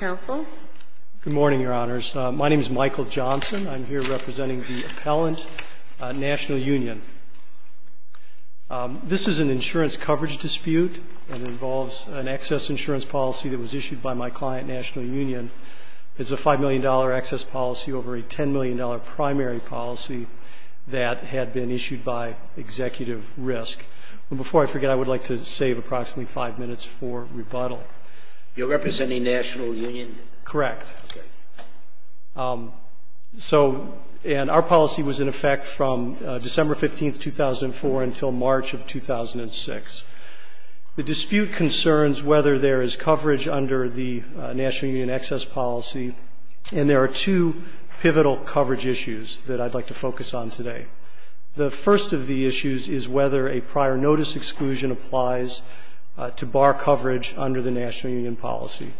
Council. Good morning, your honors. My name is Michael Johnson. I'm here representing the appellant National Union. This is an insurance coverage dispute that involves an excess insurance policy that was issued by my client, National Union. It's a five million dollar excess policy over a ten million dollar primary policy that had been issued by executive risk. And before I forget, I would like to save approximately five minutes for rebuttal. You're representing National Union? Correct. So, and our policy was in effect from December 15th, 2004 until March of 2006. The dispute concerns whether there is coverage under the National Union excess policy. And there are two pivotal coverage issues that I'd like to focus on today. The first of the issues is whether a prior notice exclusion applies to bar coverage under the National Union policy.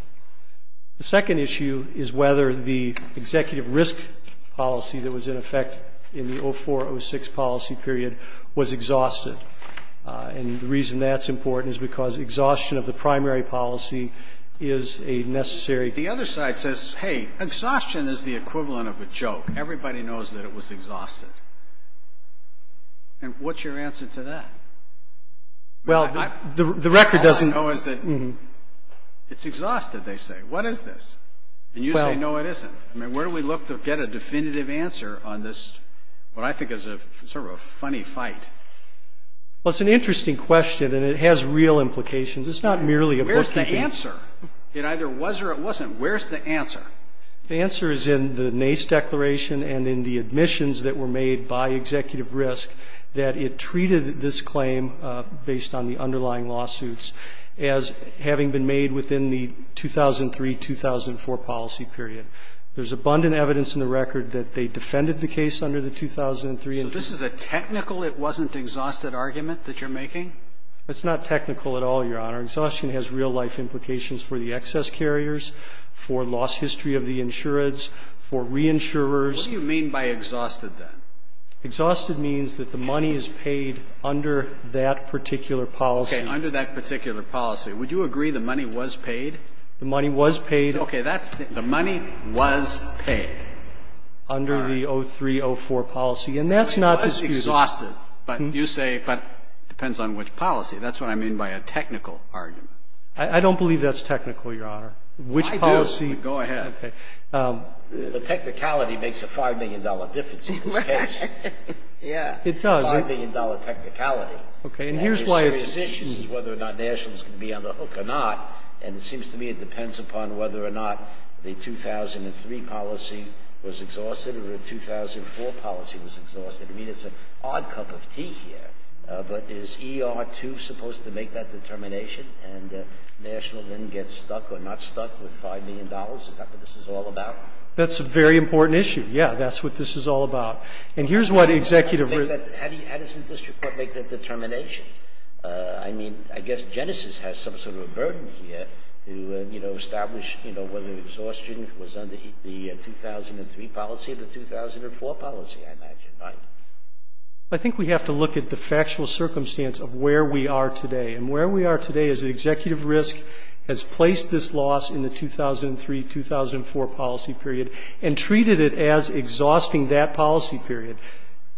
The second issue is whether the executive risk policy that was in effect in the 0406 policy period was exhausted. And the reason that's important is because exhaustion of the primary policy is a necessary. The other side says, hey, exhaustion is the equivalent of a joke. Everybody knows that it was exhausted. And what's your answer to that? Well, the record doesn't. All I know is that it's exhausted, they say. What is this? And you say, no, it isn't. I mean, where do we look to get a definitive answer on this, what I think is sort of a funny fight? Well, it's an interesting question and it has real implications. It's not merely. Where's the answer? It either was or it wasn't. Where's the answer? The answer is in the NACE declaration and in the admissions that were made by executive risk that it treated this claim based on the underlying lawsuits as having been made within the 2003-2004 policy period. There's abundant evidence in the record that they defended the case under the 2003. So this is a technical it wasn't exhausted argument that you're making? It's not technical at all, Your Honor. Exhaustion has real life implications for the excess carriers, for lost history of the insurance, for reinsurers. What do you mean by exhausted, then? Exhausted means that the money is paid under that particular policy. Okay. Under that particular policy. Would you agree the money was paid? The money was paid. Okay. That's the money was paid. Under the 2003-2004 policy. And that's not disputable. Exhausted. But you say it depends on which policy. That's what I mean by a technical argument. I don't believe that's technical, Your Honor. I do. Which policy? Go ahead. Okay. The technicality makes a $5 million difference in this case. Right. It does. $5 million technicality. Okay. And here's why it's One of the serious issues is whether or not nationals can be on the hook or not. And it seems to me it depends upon whether or not the 2003 policy was exhausted or the 2004 policy was exhausted. I mean, it's an odd cup of tea here. But is E.R. 2 supposed to make that determination? And national then gets stuck or not stuck with $5 million? Is that what this is all about? That's a very important issue. Yeah. That's what this is all about. And here's what Executive How does the district court make that determination? I mean, I guess Genesis has some sort of a burden here to, you know, establish, you know, whether exhaustion was under the 2003 policy or the 2004 policy, I imagine, right? I think we have to look at the factual circumstance of where we are today. And where we are today is that Executive Risk has placed this loss in the 2003-2004 policy period and treated it as exhausting that policy period.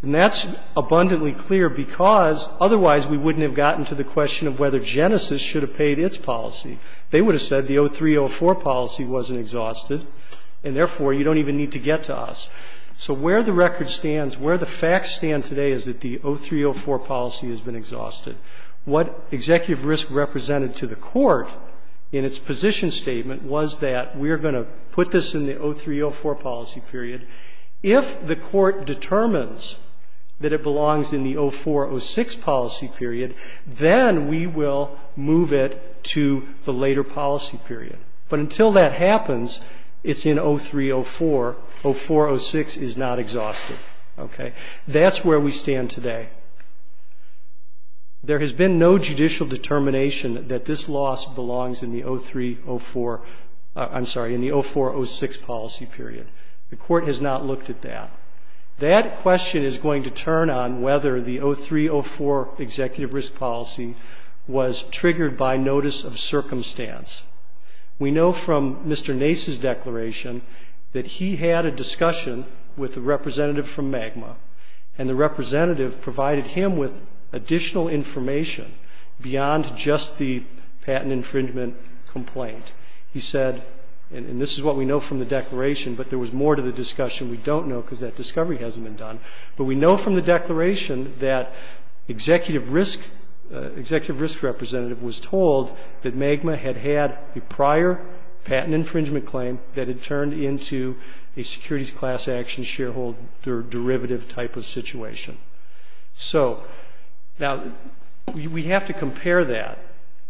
And that's abundantly clear because otherwise we wouldn't have gotten to the question of whether Genesis should have paid its policy. They would have said the 2003-2004 policy wasn't exhausted, and therefore you don't even need to get to us. So where the record stands, where the facts stand today is that the 2003-2004 policy has been exhausted. What Executive Risk represented to the court in its position statement was that we are going to put this in the 2003-2004 policy period. If the court determines that it belongs in the 2004-2006 policy period, then we will move it to the later policy period. But until that happens, it's in 2003-2004. 2004-2006 is not exhausted, okay? That's where we stand today. There has been no judicial determination that this loss belongs in the 2003-2004 I'm sorry, in the 2004-2006 policy period. The court has not looked at that. That question is going to turn on whether the 2003-2004 Executive Risk policy was triggered by notice of circumstance. We know from Mr. Nace's declaration that he had a discussion with a representative from MAGMA, and the representative provided him with additional information beyond just the patent infringement complaint. He said, and this is what we know from the declaration, but there was more to the discussion we don't know because that discovery hasn't been done. But we know from the declaration that Executive Risk representative was told that MAGMA had had a prior patent infringement claim that had turned into a securities class action shareholder derivative type of situation. So, now, we have to compare that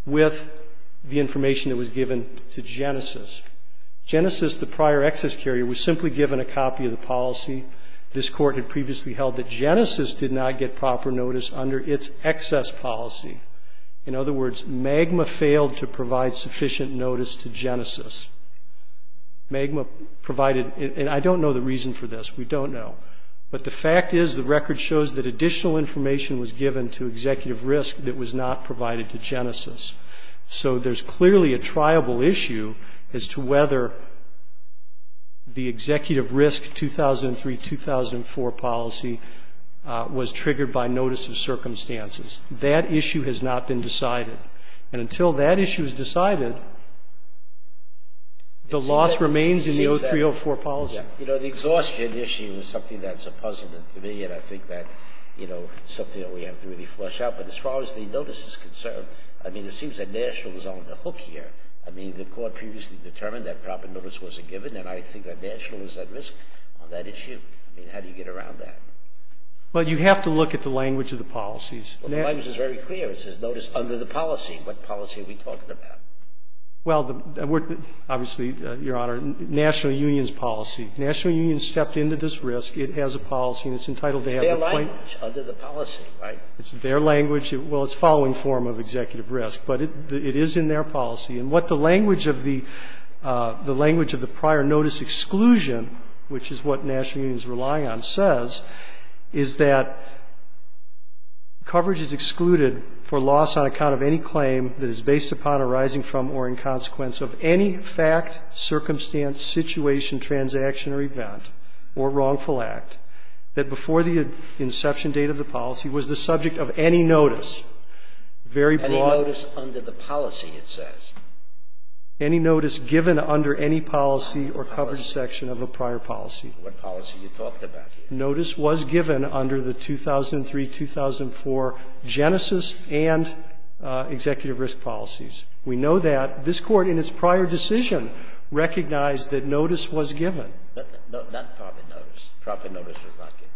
with the information that was given to previously held that Genesis did not get proper notice under its excess policy. In other words, MAGMA failed to provide sufficient notice to Genesis. MAGMA provided and I don't know the reason for this. We don't know. But the fact is the record shows that additional information was given to Executive Risk that was not provided to Genesis. So, there's clearly a triable issue as to whether the Executive Risk 2003-2004 policy was triggered by notice of circumstances. That issue has not been decided. And until that issue is decided, the loss remains in the 03-04 policy. Scalia. You know, the exhaustion issue is something that's puzzling to me, and I think that, you know, something that we have to really flush out. But as far as the notice is concerned, I mean, it seems that National is on the hook here. I mean, the Court previously determined that proper notice wasn't given, and I think that National is at risk on that issue. I mean, how do you get around that? Well, you have to look at the language of the policies. Well, the language is very clear. It says notice under the policy. What policy are we talking about? Well, we're obviously, Your Honor, National Union's policy. National Union stepped into this risk. It has a policy, and it's entitled to have a complaint. It's their language under the policy, right? It's their language. Well, it's the following form of Executive Risk. But it is in their language. The language of the prior notice exclusion, which is what National Union is relying on, says, is that coverage is excluded for loss on account of any claim that is based upon, arising from, or in consequence of any fact, circumstance, situation, transaction, or event, or wrongful act that before the inception date of the policy was the subject of any notice. Very broad. Any notice under the policy, it says. Any notice given under any policy or coverage section of a prior policy. What policy are you talking about here? Notice was given under the 2003-2004 Genesis and Executive Risk policies. We know that. This Court in its prior decision recognized that notice was given. Not proper notice. Proper notice was not given.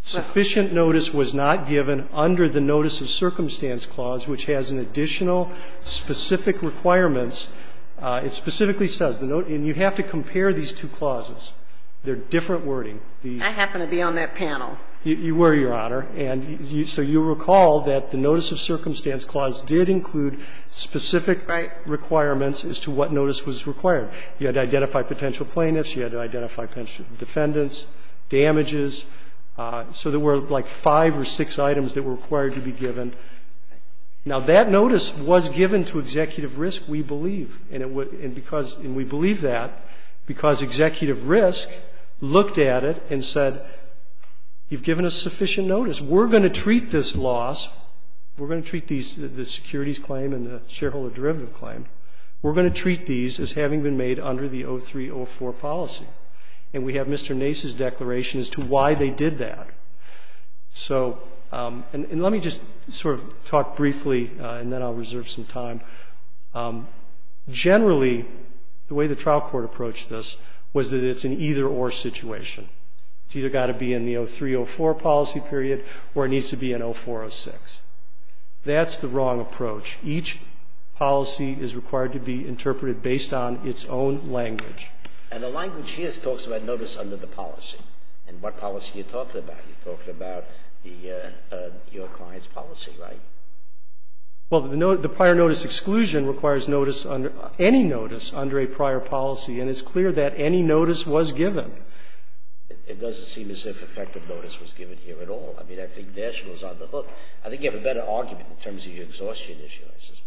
Sufficient notice was not given under the Notice of Circumstance Clause, which has an additional specific requirements. It specifically says, and you have to compare these two clauses. They're different wording. I happen to be on that panel. You were, Your Honor. And so you recall that the Notice of Circumstance Clause did include specific requirements as to what notice was required. You had to identify potential plaintiffs. You had to identify potential defendants, damages. So there were like five or six items that were required to be given. Now, that notice was given to Executive Risk, we believe. And we believe that because Executive Risk looked at it and said, you've given us sufficient notice. We're going to treat this loss, we're going to treat the securities claim and the shareholder derivative claim, we're going to treat these as having been made under the 2003-2004 policy. And we have Mr. Nace's declaration as to why they did that. So, and let me just sort of talk briefly, and then I'll reserve some time. Generally, the way the trial court approached this was that it's an either-or situation. It's either got to be in the 2003-2004 policy period or it needs to be in 2004-2006. That's the wrong approach. Each policy is required to be interpreted based on its own language. And the language here talks about notice under the policy. And what policy are you talking about? You're talking about your client's policy, right? Well, the prior notice exclusion requires notice under any notice under a prior policy. And it's clear that any notice was given. It doesn't seem as if effective notice was given here at all. I mean, I think Nashville is on the hook. I think you have a better argument in terms of your exhaustion issue, I suspect.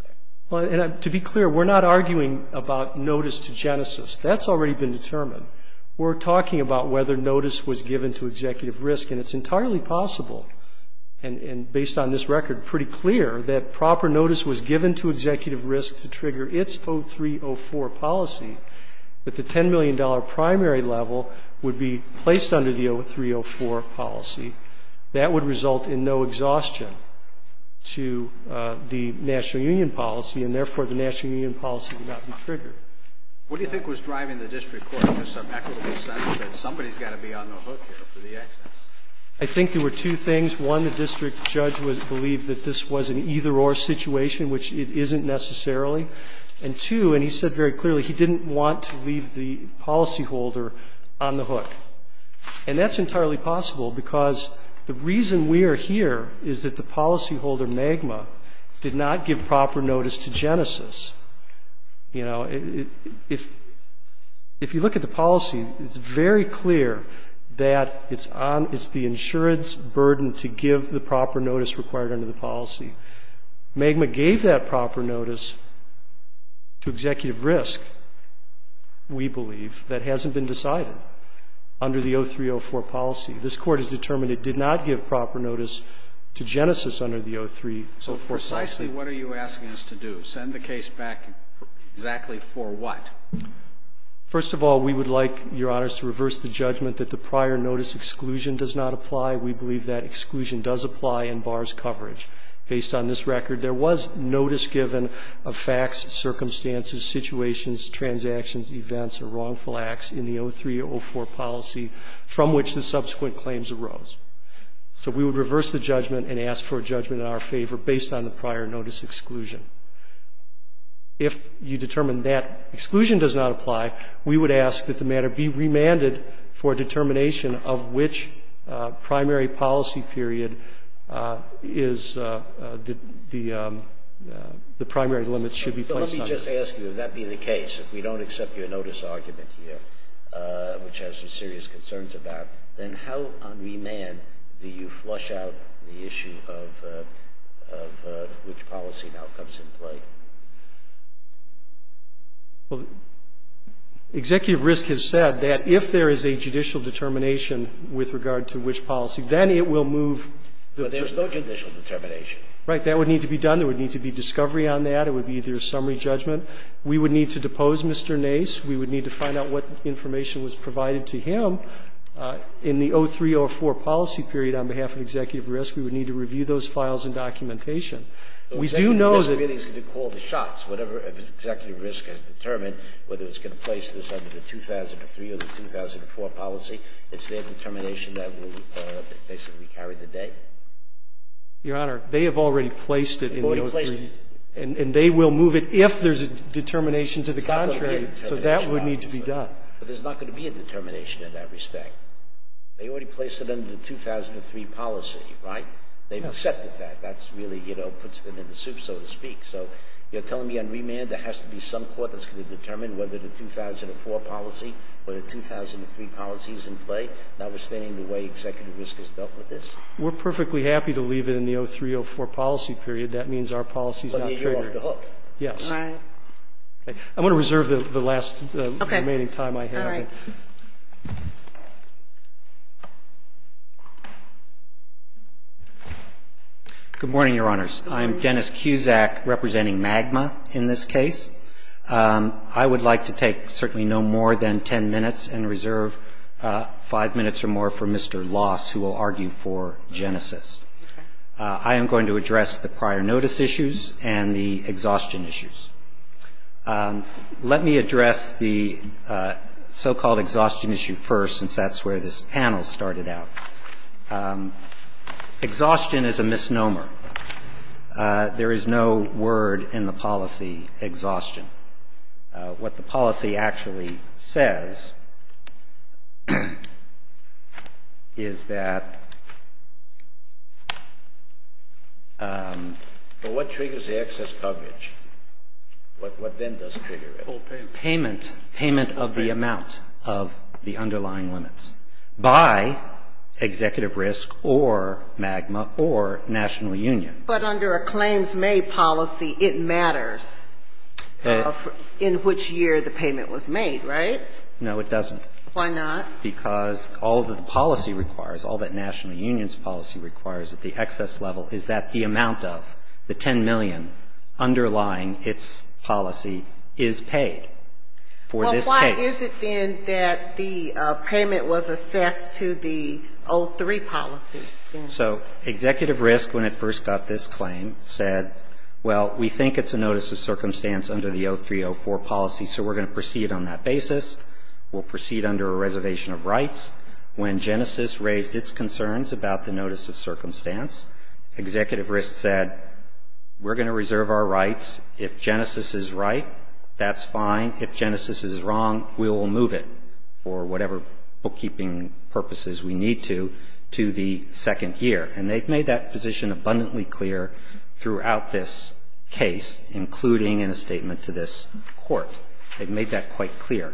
Well, and to be clear, we're not arguing about notice to Genesis. That's already been determined. We're talking about whether notice was given to executive risk, and it's entirely possible, and based on this record pretty clear, that proper notice was given to executive risk to trigger its 03-04 policy, that the $10 million primary level would be placed under the 03-04 policy. That would result in no exhaustion to the national union policy, and, therefore, the national union policy would not be triggered. What do you think was driving the district court to some equitable sense that somebody's got to be on the hook here for the excess? I think there were two things. One, the district judge would believe that this was an either-or situation, which it isn't necessarily. And two, and he said very clearly, he didn't want to leave the policyholder on the hook. And that's entirely possible because the reason we are here is that the policyholder, MAGMA, did not give proper notice to Genesis. You know, if you look at the policy, it's very clear that it's on the insurance burden to give the proper notice required under the policy. MAGMA gave that proper notice to executive risk, we believe, that hasn't been decided under the 03-04 policy. This Court has determined it did not give proper notice to Genesis under the 03-04 policy. So precisely what are you asking us to do? Send the case back exactly for what? First of all, we would like, Your Honors, to reverse the judgment that the prior notice exclusion does not apply. We believe that exclusion does apply in bars coverage. Based on this record, there was notice given of facts, circumstances, situations, transactions, events, or wrongful acts in the 03-04 policy from which the subsequent claims arose. So we would reverse the judgment and ask for a judgment in our favor based on the prior notice exclusion. If you determine that exclusion does not apply, we would ask that the matter be remanded for a determination of which primary policy period is the primary limits should be placed on it. Now, let me just ask you, if that be the case, if we don't accept your notice argument here, which I have some serious concerns about, then how on remand do you flush out the issue of which policy now comes into play? Well, executive risk has said that if there is a judicial determination with regard to which policy, then it will move. But there is no judicial determination. Right. That would need to be done. There would need to be discovery on that. It would be either a summary judgment. We would need to depose Mr. Nace. We would need to find out what information was provided to him. In the 03-04 policy period, on behalf of executive risk, we would need to review those files and documentation. We do know that the committee is going to call the shots. Whatever executive risk has determined, whether it's going to place this under the 2003 or the 2004 policy, it's their determination that will basically carry the day. Your Honor, they have already placed it in the 03-04. And they will move it if there's a determination to the contrary. So that would need to be done. But there's not going to be a determination in that respect. They already placed it under the 2003 policy, right? They've accepted that. That's really, you know, puts them in the soup, so to speak. So you're telling me on remand there has to be some court that's going to determine whether the 2004 policy or the 2003 policy is in play, notwithstanding the way executive risk has dealt with this? We're perfectly happy to leave it in the 03-04 policy period. That means our policy is not triggered. Yes. I want to reserve the last remaining time I have. Good morning, Your Honors. I'm Dennis Cusack representing MAGMA in this case. I would like to take certainly no more than 10 minutes and reserve 5 minutes or more for Mr. Loss, who will argue for Genesis. I am going to address the prior notice issues and the exhaustion issues. Let me address the so-called exhaustion issue first, since that's where this panel started out. Exhaustion is a misnomer. There is no word in the policy, exhaustion. What the policy actually says is that what triggers the excess coverage, what then does trigger it? Payment. Payment of the amount of the underlying limits by executive risk or MAGMA or national union. But under a claims-made policy, it matters. In which year the payment was made, right? No, it doesn't. Why not? Because all that the policy requires, all that national union's policy requires at the excess level is that the amount of the $10 million underlying its policy is paid for this case. Well, why is it, then, that the payment was assessed to the 03 policy? So executive risk, when it first got this claim, said, well, we think it's a notice of circumstance under the 03-04 policy, so we're going to proceed on that basis. We'll proceed under a reservation of rights. When Genesis raised its concerns about the notice of circumstance, executive risk said, we're going to reserve our rights. If Genesis is right, that's fine. If Genesis is wrong, we will move it, for whatever bookkeeping purposes we need to, to the second year. And they've made that position abundantly clear throughout this case, including in a statement to this Court. They've made that quite clear.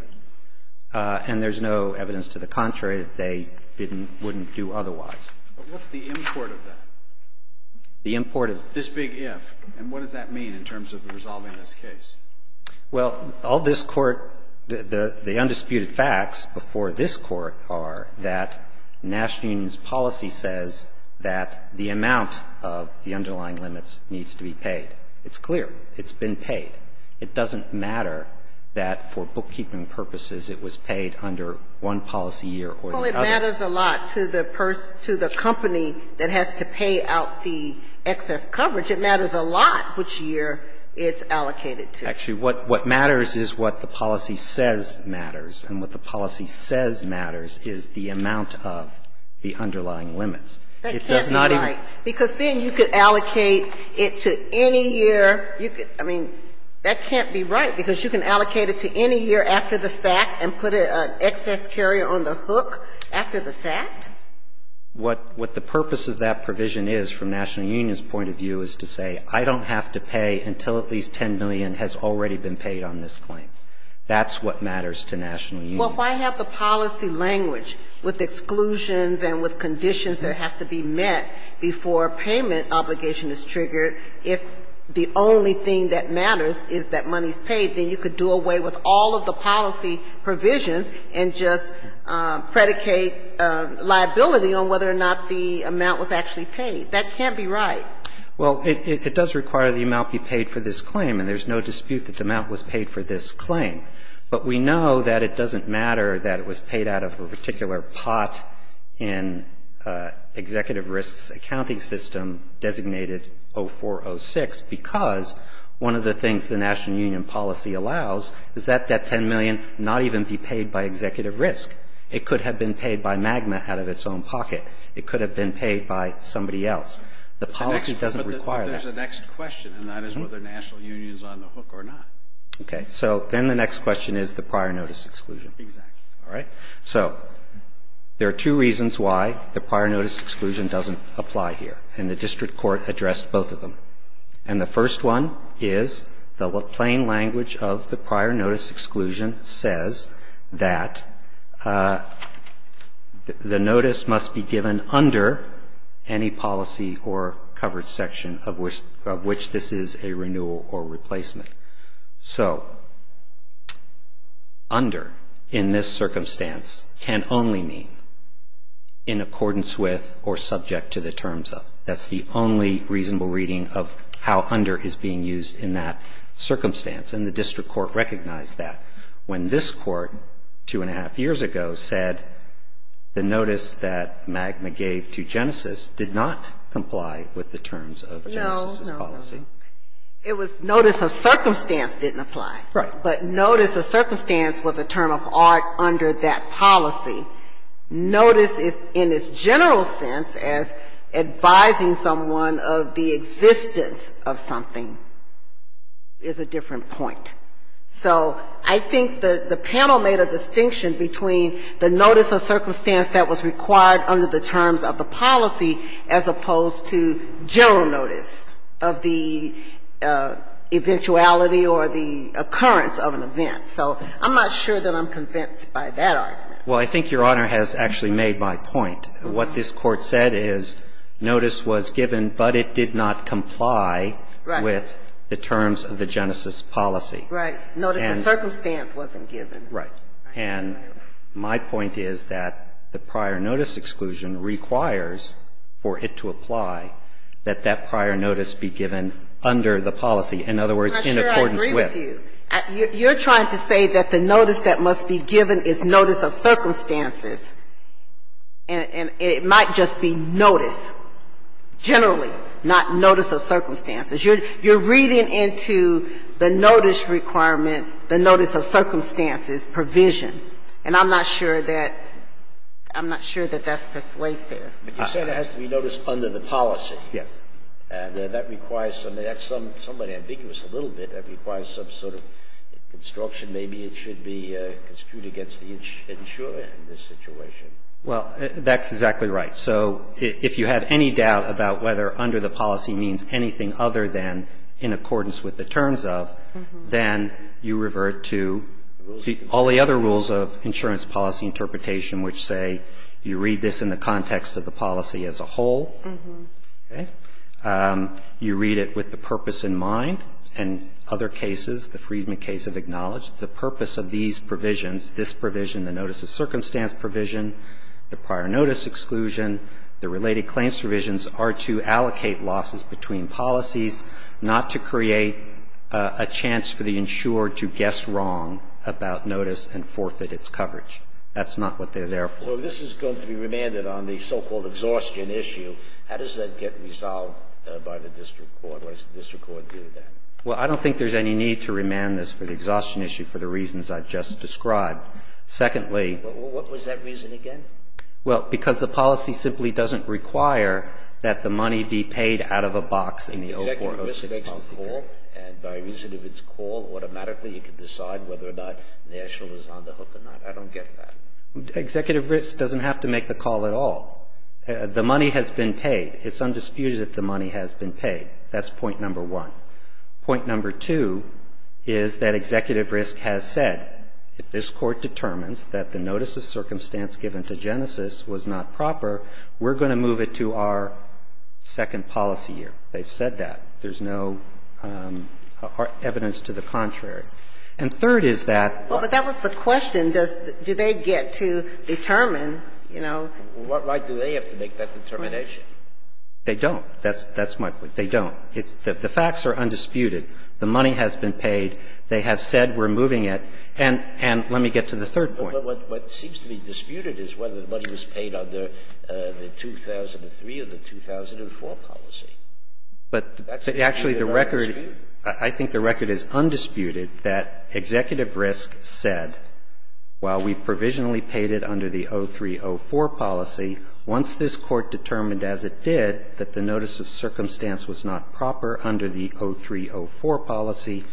And there's no evidence to the contrary that they didn't or wouldn't do otherwise. But what's the import of that? The import of it? This big if. And what does that mean in terms of resolving this case? Well, all this Court, the undisputed facts before this Court are that national union's policy says that the amount of the underlying limits needs to be paid. It's clear. It's been paid. It doesn't matter that for bookkeeping purposes it was paid under one policy year or the other. Well, it matters a lot to the person, to the company that has to pay out the excess coverage. It matters a lot which year it's allocated to. Actually, what matters is what the policy says matters. And what the policy says matters is the amount of the underlying limits. It does not even ---- That can't be right, because then you could allocate it to any year. I mean, that can't be right, because you can allocate it to any year after the fact and put an excess carrier on the hook after the fact. What the purpose of that provision is from national union's point of view is to say I don't have to pay until at least $10 million has already been paid on this claim. That's what matters to national union. Well, if I have the policy language with exclusions and with conditions that have to be met before payment obligation is triggered, if the only thing that matters is that money is paid, then you could do away with all of the policy provisions and just predicate liability on whether or not the amount was actually paid. That can't be right. Well, it does require the amount be paid for this claim, and there's no dispute that the amount was paid for this claim. But we know that it doesn't matter that it was paid out of a particular pot in Executive Risk's accounting system designated 0406, because one of the things the national union policy allows is that that $10 million not even be paid by Executive Risk. It could have been paid by MAGMA out of its own pocket. It could have been paid by somebody else. The policy doesn't require that. The next question, and that is whether national union is on the hook or not. Okay. So then the next question is the prior notice exclusion. Exactly. All right. So there are two reasons why the prior notice exclusion doesn't apply here, and the district court addressed both of them. And the first one is the plain language of the prior notice exclusion says that the is a renewal or replacement. So under, in this circumstance, can only mean in accordance with or subject to the terms of. That's the only reasonable reading of how under is being used in that circumstance, and the district court recognized that. When this court, two and a half years ago, said the notice that MAGMA gave to Genesis did not comply with the terms of Genesis. No, no, no. It was notice of circumstance didn't apply. Right. But notice of circumstance was a term of art under that policy. Notice in its general sense as advising someone of the existence of something is a different point. So I think the panel made a distinction between the notice of circumstance that was given and the notice of the eventuality or the occurrence of an event. So I'm not sure that I'm convinced by that argument. Well, I think Your Honor has actually made my point. What this Court said is notice was given, but it did not comply with the terms of the Genesis policy. Right. Notice of circumstance wasn't given. Right. And my point is that the prior notice exclusion requires for it to apply that that notice must be given under the policy. In other words, in accordance with. I'm not sure I agree with you. You're trying to say that the notice that must be given is notice of circumstances, and it might just be notice generally, not notice of circumstances. You're reading into the notice requirement, the notice of circumstances provision. And I'm not sure that that's persuasive. You're saying it has to be noticed under the policy. Yes. And that requires something that's somewhat ambiguous a little bit. That requires some sort of construction. Maybe it should be construed against the insurer in this situation. Well, that's exactly right. So if you have any doubt about whether under the policy means anything other than in accordance with the terms of, then you revert to all the other rules of insurance policy interpretation, which say you read this in the context of the policy as a whole. Okay? You read it with the purpose in mind. In other cases, the Friedman case of acknowledge, the purpose of these provisions, this provision, the notice of circumstance provision, the prior notice exclusion, the related claims provisions are to allocate losses between policies, not to create a chance for the insurer to guess wrong about notice and forfeit its coverage. That's not what they're there for. So this is going to be remanded on the so-called exhaustion issue. How does that get resolved by the district court? What does the district court do then? Well, I don't think there's any need to remand this for the exhaustion issue for the reasons I've just described. Secondly — What was that reason again? Well, because the policy simply doesn't require that the money be paid out of a box in the open court. Executive risk makes the call, and by reason of its call, automatically you can decide whether or not National is on the hook or not. I don't get that. Executive risk doesn't have to make the call at all. The money has been paid. It's undisputed that the money has been paid. That's point number one. Point number two is that executive risk has said, if this Court determines that the notice of circumstance given to Genesis was not proper, we're going to move it to our second policy year. They've said that. There's no evidence to the contrary. And third is that — Well, what right do they have to make that determination? They don't. That's my point. They don't. The facts are undisputed. The money has been paid. They have said we're moving it. And let me get to the third point. But what seems to be disputed is whether the money was paid under the 2003 or the 2004 policy. But actually, the record — I think the record is undisputed that executive risk said, while we provisionally paid it under the 2003-2004 policy, once this Court determined as it did that the notice of circumstance was not proper under the 2003-2004 policy,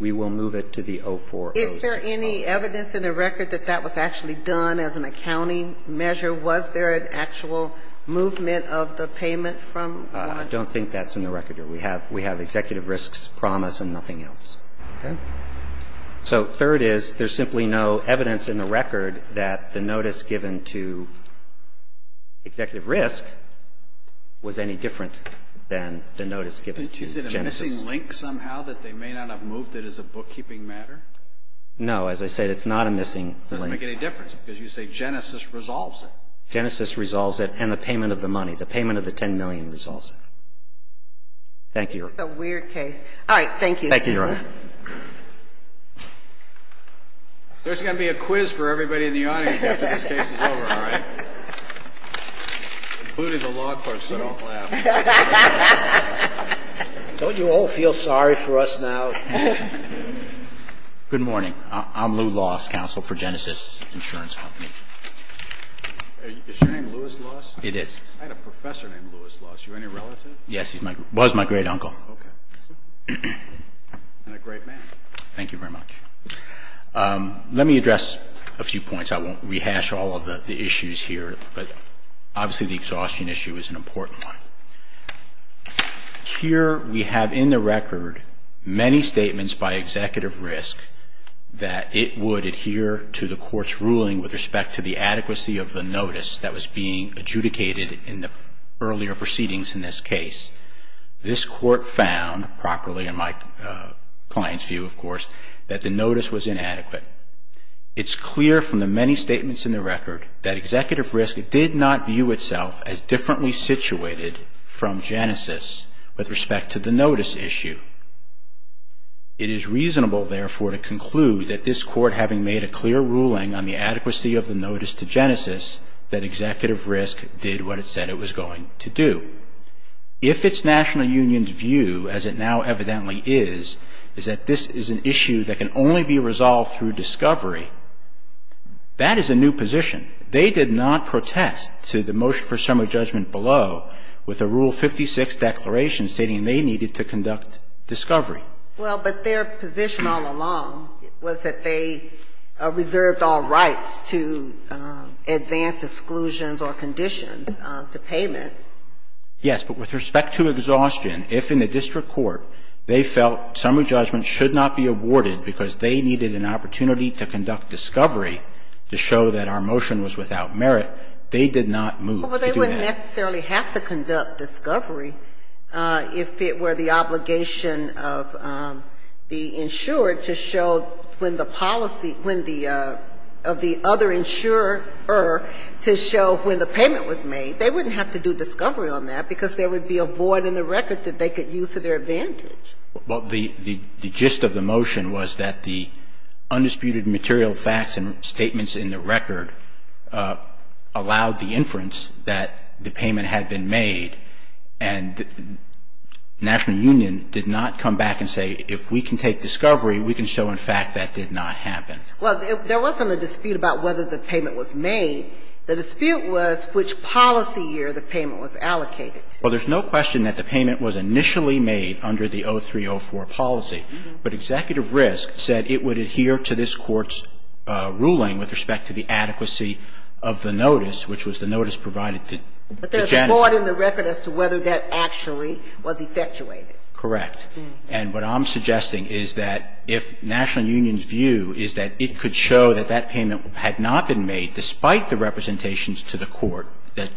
we will move it to the 2004-2006 policy. Is there any evidence in the record that that was actually done as an accounting measure? Was there an actual movement of the payment from — I don't think that's in the record, Your Honor. We have executive risk's promise and nothing else. Okay? So third is there's simply no evidence in the record that the notice given to executive risk was any different than the notice given to Genesis. Isn't it a missing link somehow that they may not have moved it as a bookkeeping matter? No. As I said, it's not a missing link. It doesn't make any difference, because you say Genesis resolves it. Genesis resolves it, and the payment of the money, the payment of the $10 million resolves it. Thank you, Your Honor. This is a weird case. All right. Thank you. Thank you, Your Honor. There's going to be a quiz for everybody in the audience after this case is over, all right? Including the law clerks, so don't laugh. Don't you all feel sorry for us now? Good morning. I'm Lew Loss, counsel for Genesis Insurance Company. Is your name Lewis Loss? It is. I had a professor named Lewis Loss. Are you any relative? Yes. He was my great uncle. Okay. And a great man. Thank you very much. Let me address a few points. I won't rehash all of the issues here, but obviously the exhaustion issue is an important one. Here we have in the record many statements by executive risk that it would adhere to the Court's ruling with respect to the adequacy of the notice that was being adjudicated in the earlier proceedings in this case. This Court found, properly in my client's view, of course, that the notice was inadequate. It's clear from the many statements in the record that executive risk did not view itself as differently situated from Genesis with respect to the notice issue. It is reasonable, therefore, to conclude that this Court, having made a clear ruling on the adequacy of the notice to Genesis, that executive risk did what it said it was going to do. If it's national union's view, as it now evidently is, is that this is an issue that can only be resolved through discovery, that is a new position. They did not protest to the motion for summary judgment below with a Rule 56 declaration stating they needed to conduct discovery. Well, but their position all along was that they reserved all rights to advance exclusions or conditions to payment. Yes. But with respect to exhaustion, if in the district court they felt summary judgment should not be awarded because they needed an opportunity to conduct discovery to show that our motion was without merit, they did not move to do that. Well, they wouldn't necessarily have to conduct discovery if it were the obligation of the insurer to show when the policy of the other insurer to show when the payment was made. They wouldn't have to do discovery on that because there would be a void in the record that they could use to their advantage. Well, the gist of the motion was that the undisputed material facts and statements in the record allowed the inference that the payment had been made, and national union did not come back and say if we can take discovery, we can show in fact that did not happen. Well, there wasn't a dispute about whether the payment was made. The dispute was which policy year the payment was allocated. Well, there's no question that the payment was initially made under the 0304 policy, but Executive Risk said it would adhere to this Court's ruling with respect to the adequacy of the notice, which was the notice provided to Genesee. And it was not in the record as to whether that actually was effectuated. Correct. And what I'm suggesting is that if national union's view is that it could show that that payment had not been made despite the representations to the Court that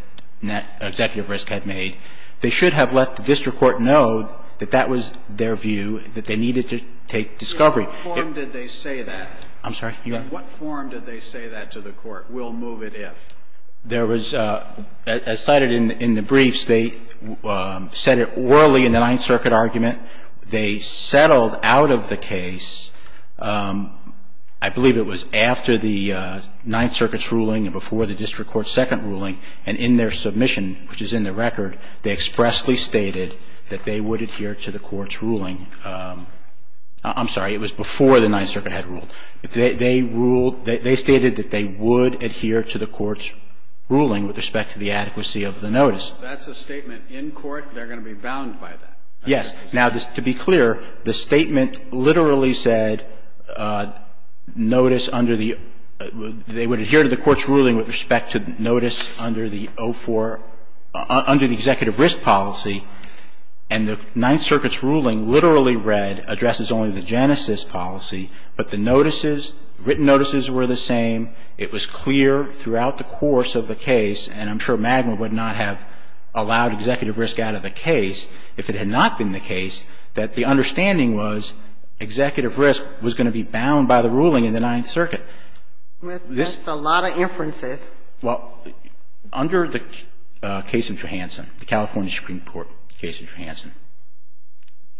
Executive Risk had made, they should have let the district court know that that was their view, that they needed to take discovery. In what form did they say that? I'm sorry. In what form did they say that to the Court? We'll move it if. There was, as cited in the briefs, they said it orally in the Ninth Circuit argument. They settled out of the case, I believe it was after the Ninth Circuit's ruling and before the district court's second ruling, and in their submission, which is in the record, they expressly stated that they would adhere to the Court's ruling. I'm sorry. It was before the Ninth Circuit had ruled. They ruled, they stated that they would adhere to the Court's ruling with respect to the adequacy of the notice. That's a statement in court. They're going to be bound by that. Yes. Now, to be clear, the statement literally said notice under the they would adhere to the Court's ruling with respect to notice under the 04, under the Executive Risk policy, and the Ninth Circuit's ruling literally read, addresses only the genesis policy, but the notices, written notices were the same. It was clear throughout the course of the case, and I'm sure Magner would not have allowed Executive Risk out of the case if it had not been the case, that the understanding was Executive Risk was going to be bound by the ruling in the Ninth Circuit. That's a lot of inferences. Well, under the case of Johansson, the California Supreme Court case of Johansson,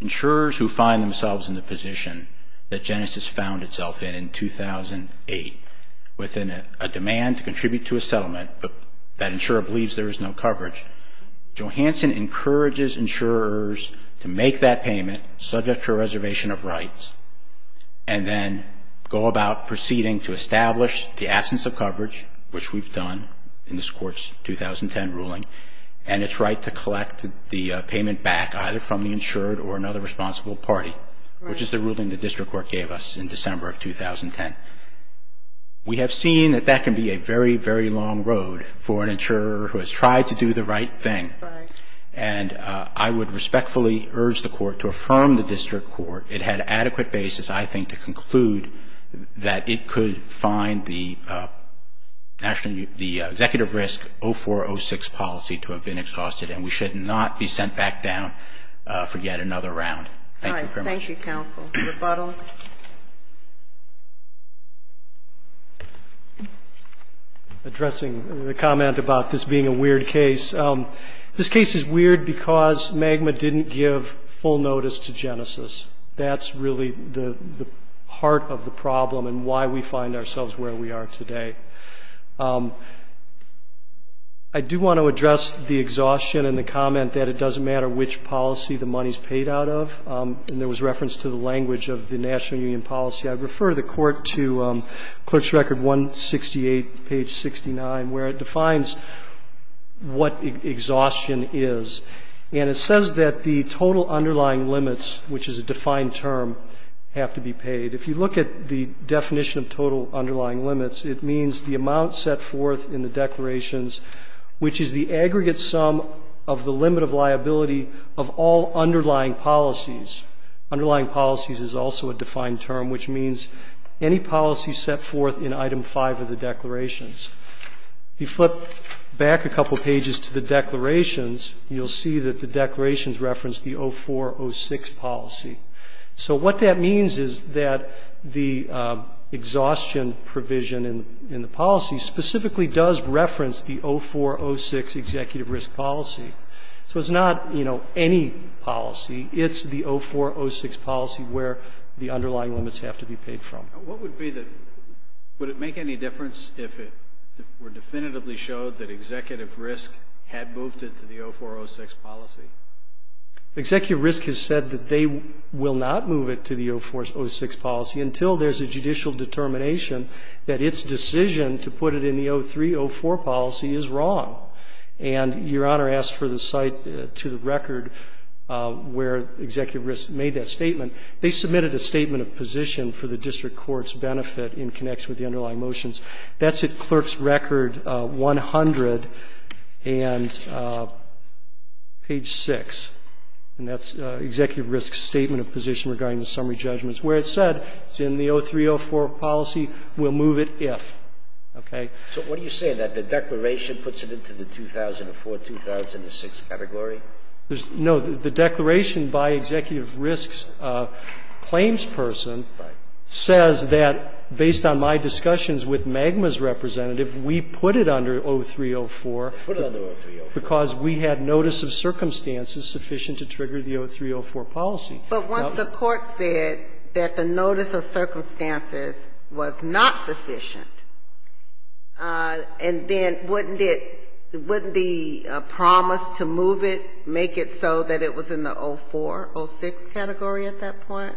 insurers who find themselves in the position that genesis found itself in, in 2008, within a demand to contribute to a settlement, but that insurer believes there is no coverage, Johansson encourages insurers to make that payment, subject to a reservation of rights, and then go about proceeding to establish the absence of coverage, which we've done in this Court's 2010 ruling, and its right to collect the payment back, either from the insured or another responsible party, which is the ruling the District Court gave us in December of 2010. We have seen that that can be a very, very long road for an insurer who has tried to do the right thing, and I would respectfully urge the Court to affirm the District Court. It had adequate basis, I think, to conclude that it could find the National, the Executive Risk 0406 policy to have been exhausted, and we should not be sent back down for yet another round. Thank you very much. All right. Thank you, counsel. Rebuttal. Addressing the comment about this being a weird case, this case is weird because MAGMA didn't give full notice to genesis. That's really the heart of the problem and why we find ourselves where we are today. I do want to address the exhaustion and the comment that it doesn't matter which policy the money is paid out of, and there was reference to the language of the National Union policy. I refer the Court to Clerk's Record 168, page 69, where it defines what exhaustion is. And it says that the total underlying limits, which is a defined term, have to be paid. If you look at the definition of total underlying limits, it means the amount set forth in the declarations, which is the aggregate sum of the limit of liability of all underlying policies. Underlying policies is also a defined term, which means any policy set forth in item 5 of the declarations. If you flip back a couple pages to the declarations, you'll see that the declarations reference the 0406 policy. So what that means is that the exhaustion provision in the policy specifically does reference the 0406 executive risk policy. So it's not, you know, any policy. It's the 0406 policy where the underlying limits have to be paid from. What would be the, would it make any difference if it were definitively showed that executive risk had moved it to the 0406 policy? Executive risk has said that they will not move it to the 0406 policy until there's a judicial determination that its decision to put it in the 0304 policy is wrong. And Your Honor asked for the site to the record where executive risk made that statement. They submitted a statement of position for the district court's benefit in connection with the underlying motions. That's at clerk's record 100 and page 6. And that's executive risk's statement of position regarding the summary judgments where it said it's in the 0304 policy, we'll move it if. Okay? So what do you say? That the declaration puts it into the 2004, 2006 category? No. The declaration by executive risk's claims person says that based on my discussions with MAGMA's representative, we put it under 0304. Put it under 0304. Because we had notice of circumstances sufficient to trigger the 0304 policy. But once the Court said that the notice of circumstances was not sufficient, and then wouldn't it, wouldn't the promise to move it make it so that it was in the 0406 category at that point?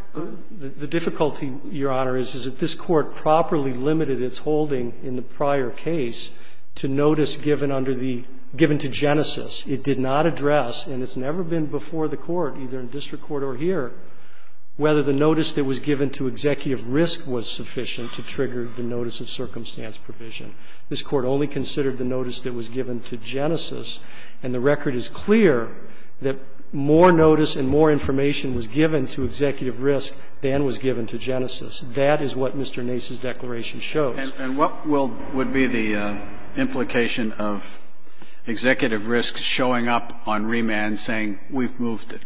The difficulty, Your Honor, is that this Court properly limited its holding in the prior case to notice given under the — given to genesis. It did not address, and it's never been before the Court, either in district court or here, whether the notice that was given to executive risk was sufficient to trigger the notice of circumstance provision. This Court only considered the notice that was given to genesis, and the record is clear that more notice and more information was given to executive risk than was given to genesis. That is what Mr. Nace's declaration shows. And what will — would be the implication of executive risk showing up on remand saying we've moved it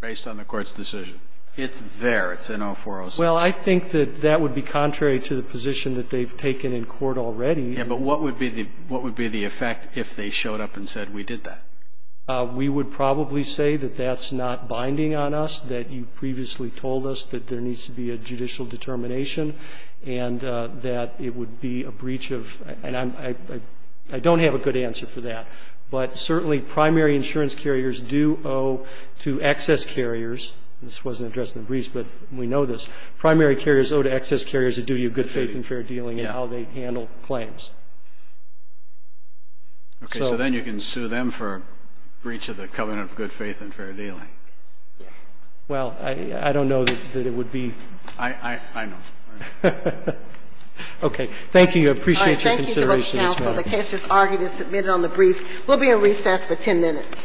based on the Court's decision? It's there. It's in 0406. Well, I think that that would be contrary to the position that they've taken in court already. But what would be the effect if they showed up and said we did that? We would probably say that that's not binding on us, that you previously told us that there needs to be a judicial determination, and that it would be a breach of — and I don't have a good answer for that. But certainly primary insurance carriers do owe to excess carriers. This wasn't addressed in the briefs, but we know this. Primary carriers owe to excess carriers a duty of good faith and fair dealing in how they handle claims. Okay. So then you can sue them for breach of the covenant of good faith and fair dealing. Yeah. Well, I don't know that it would be — I know. Thank you. I appreciate your consideration. All right. Thank you, Counsel. The case is argued and submitted on the brief. We'll be in recess for 10 minutes. All rise. Thank you.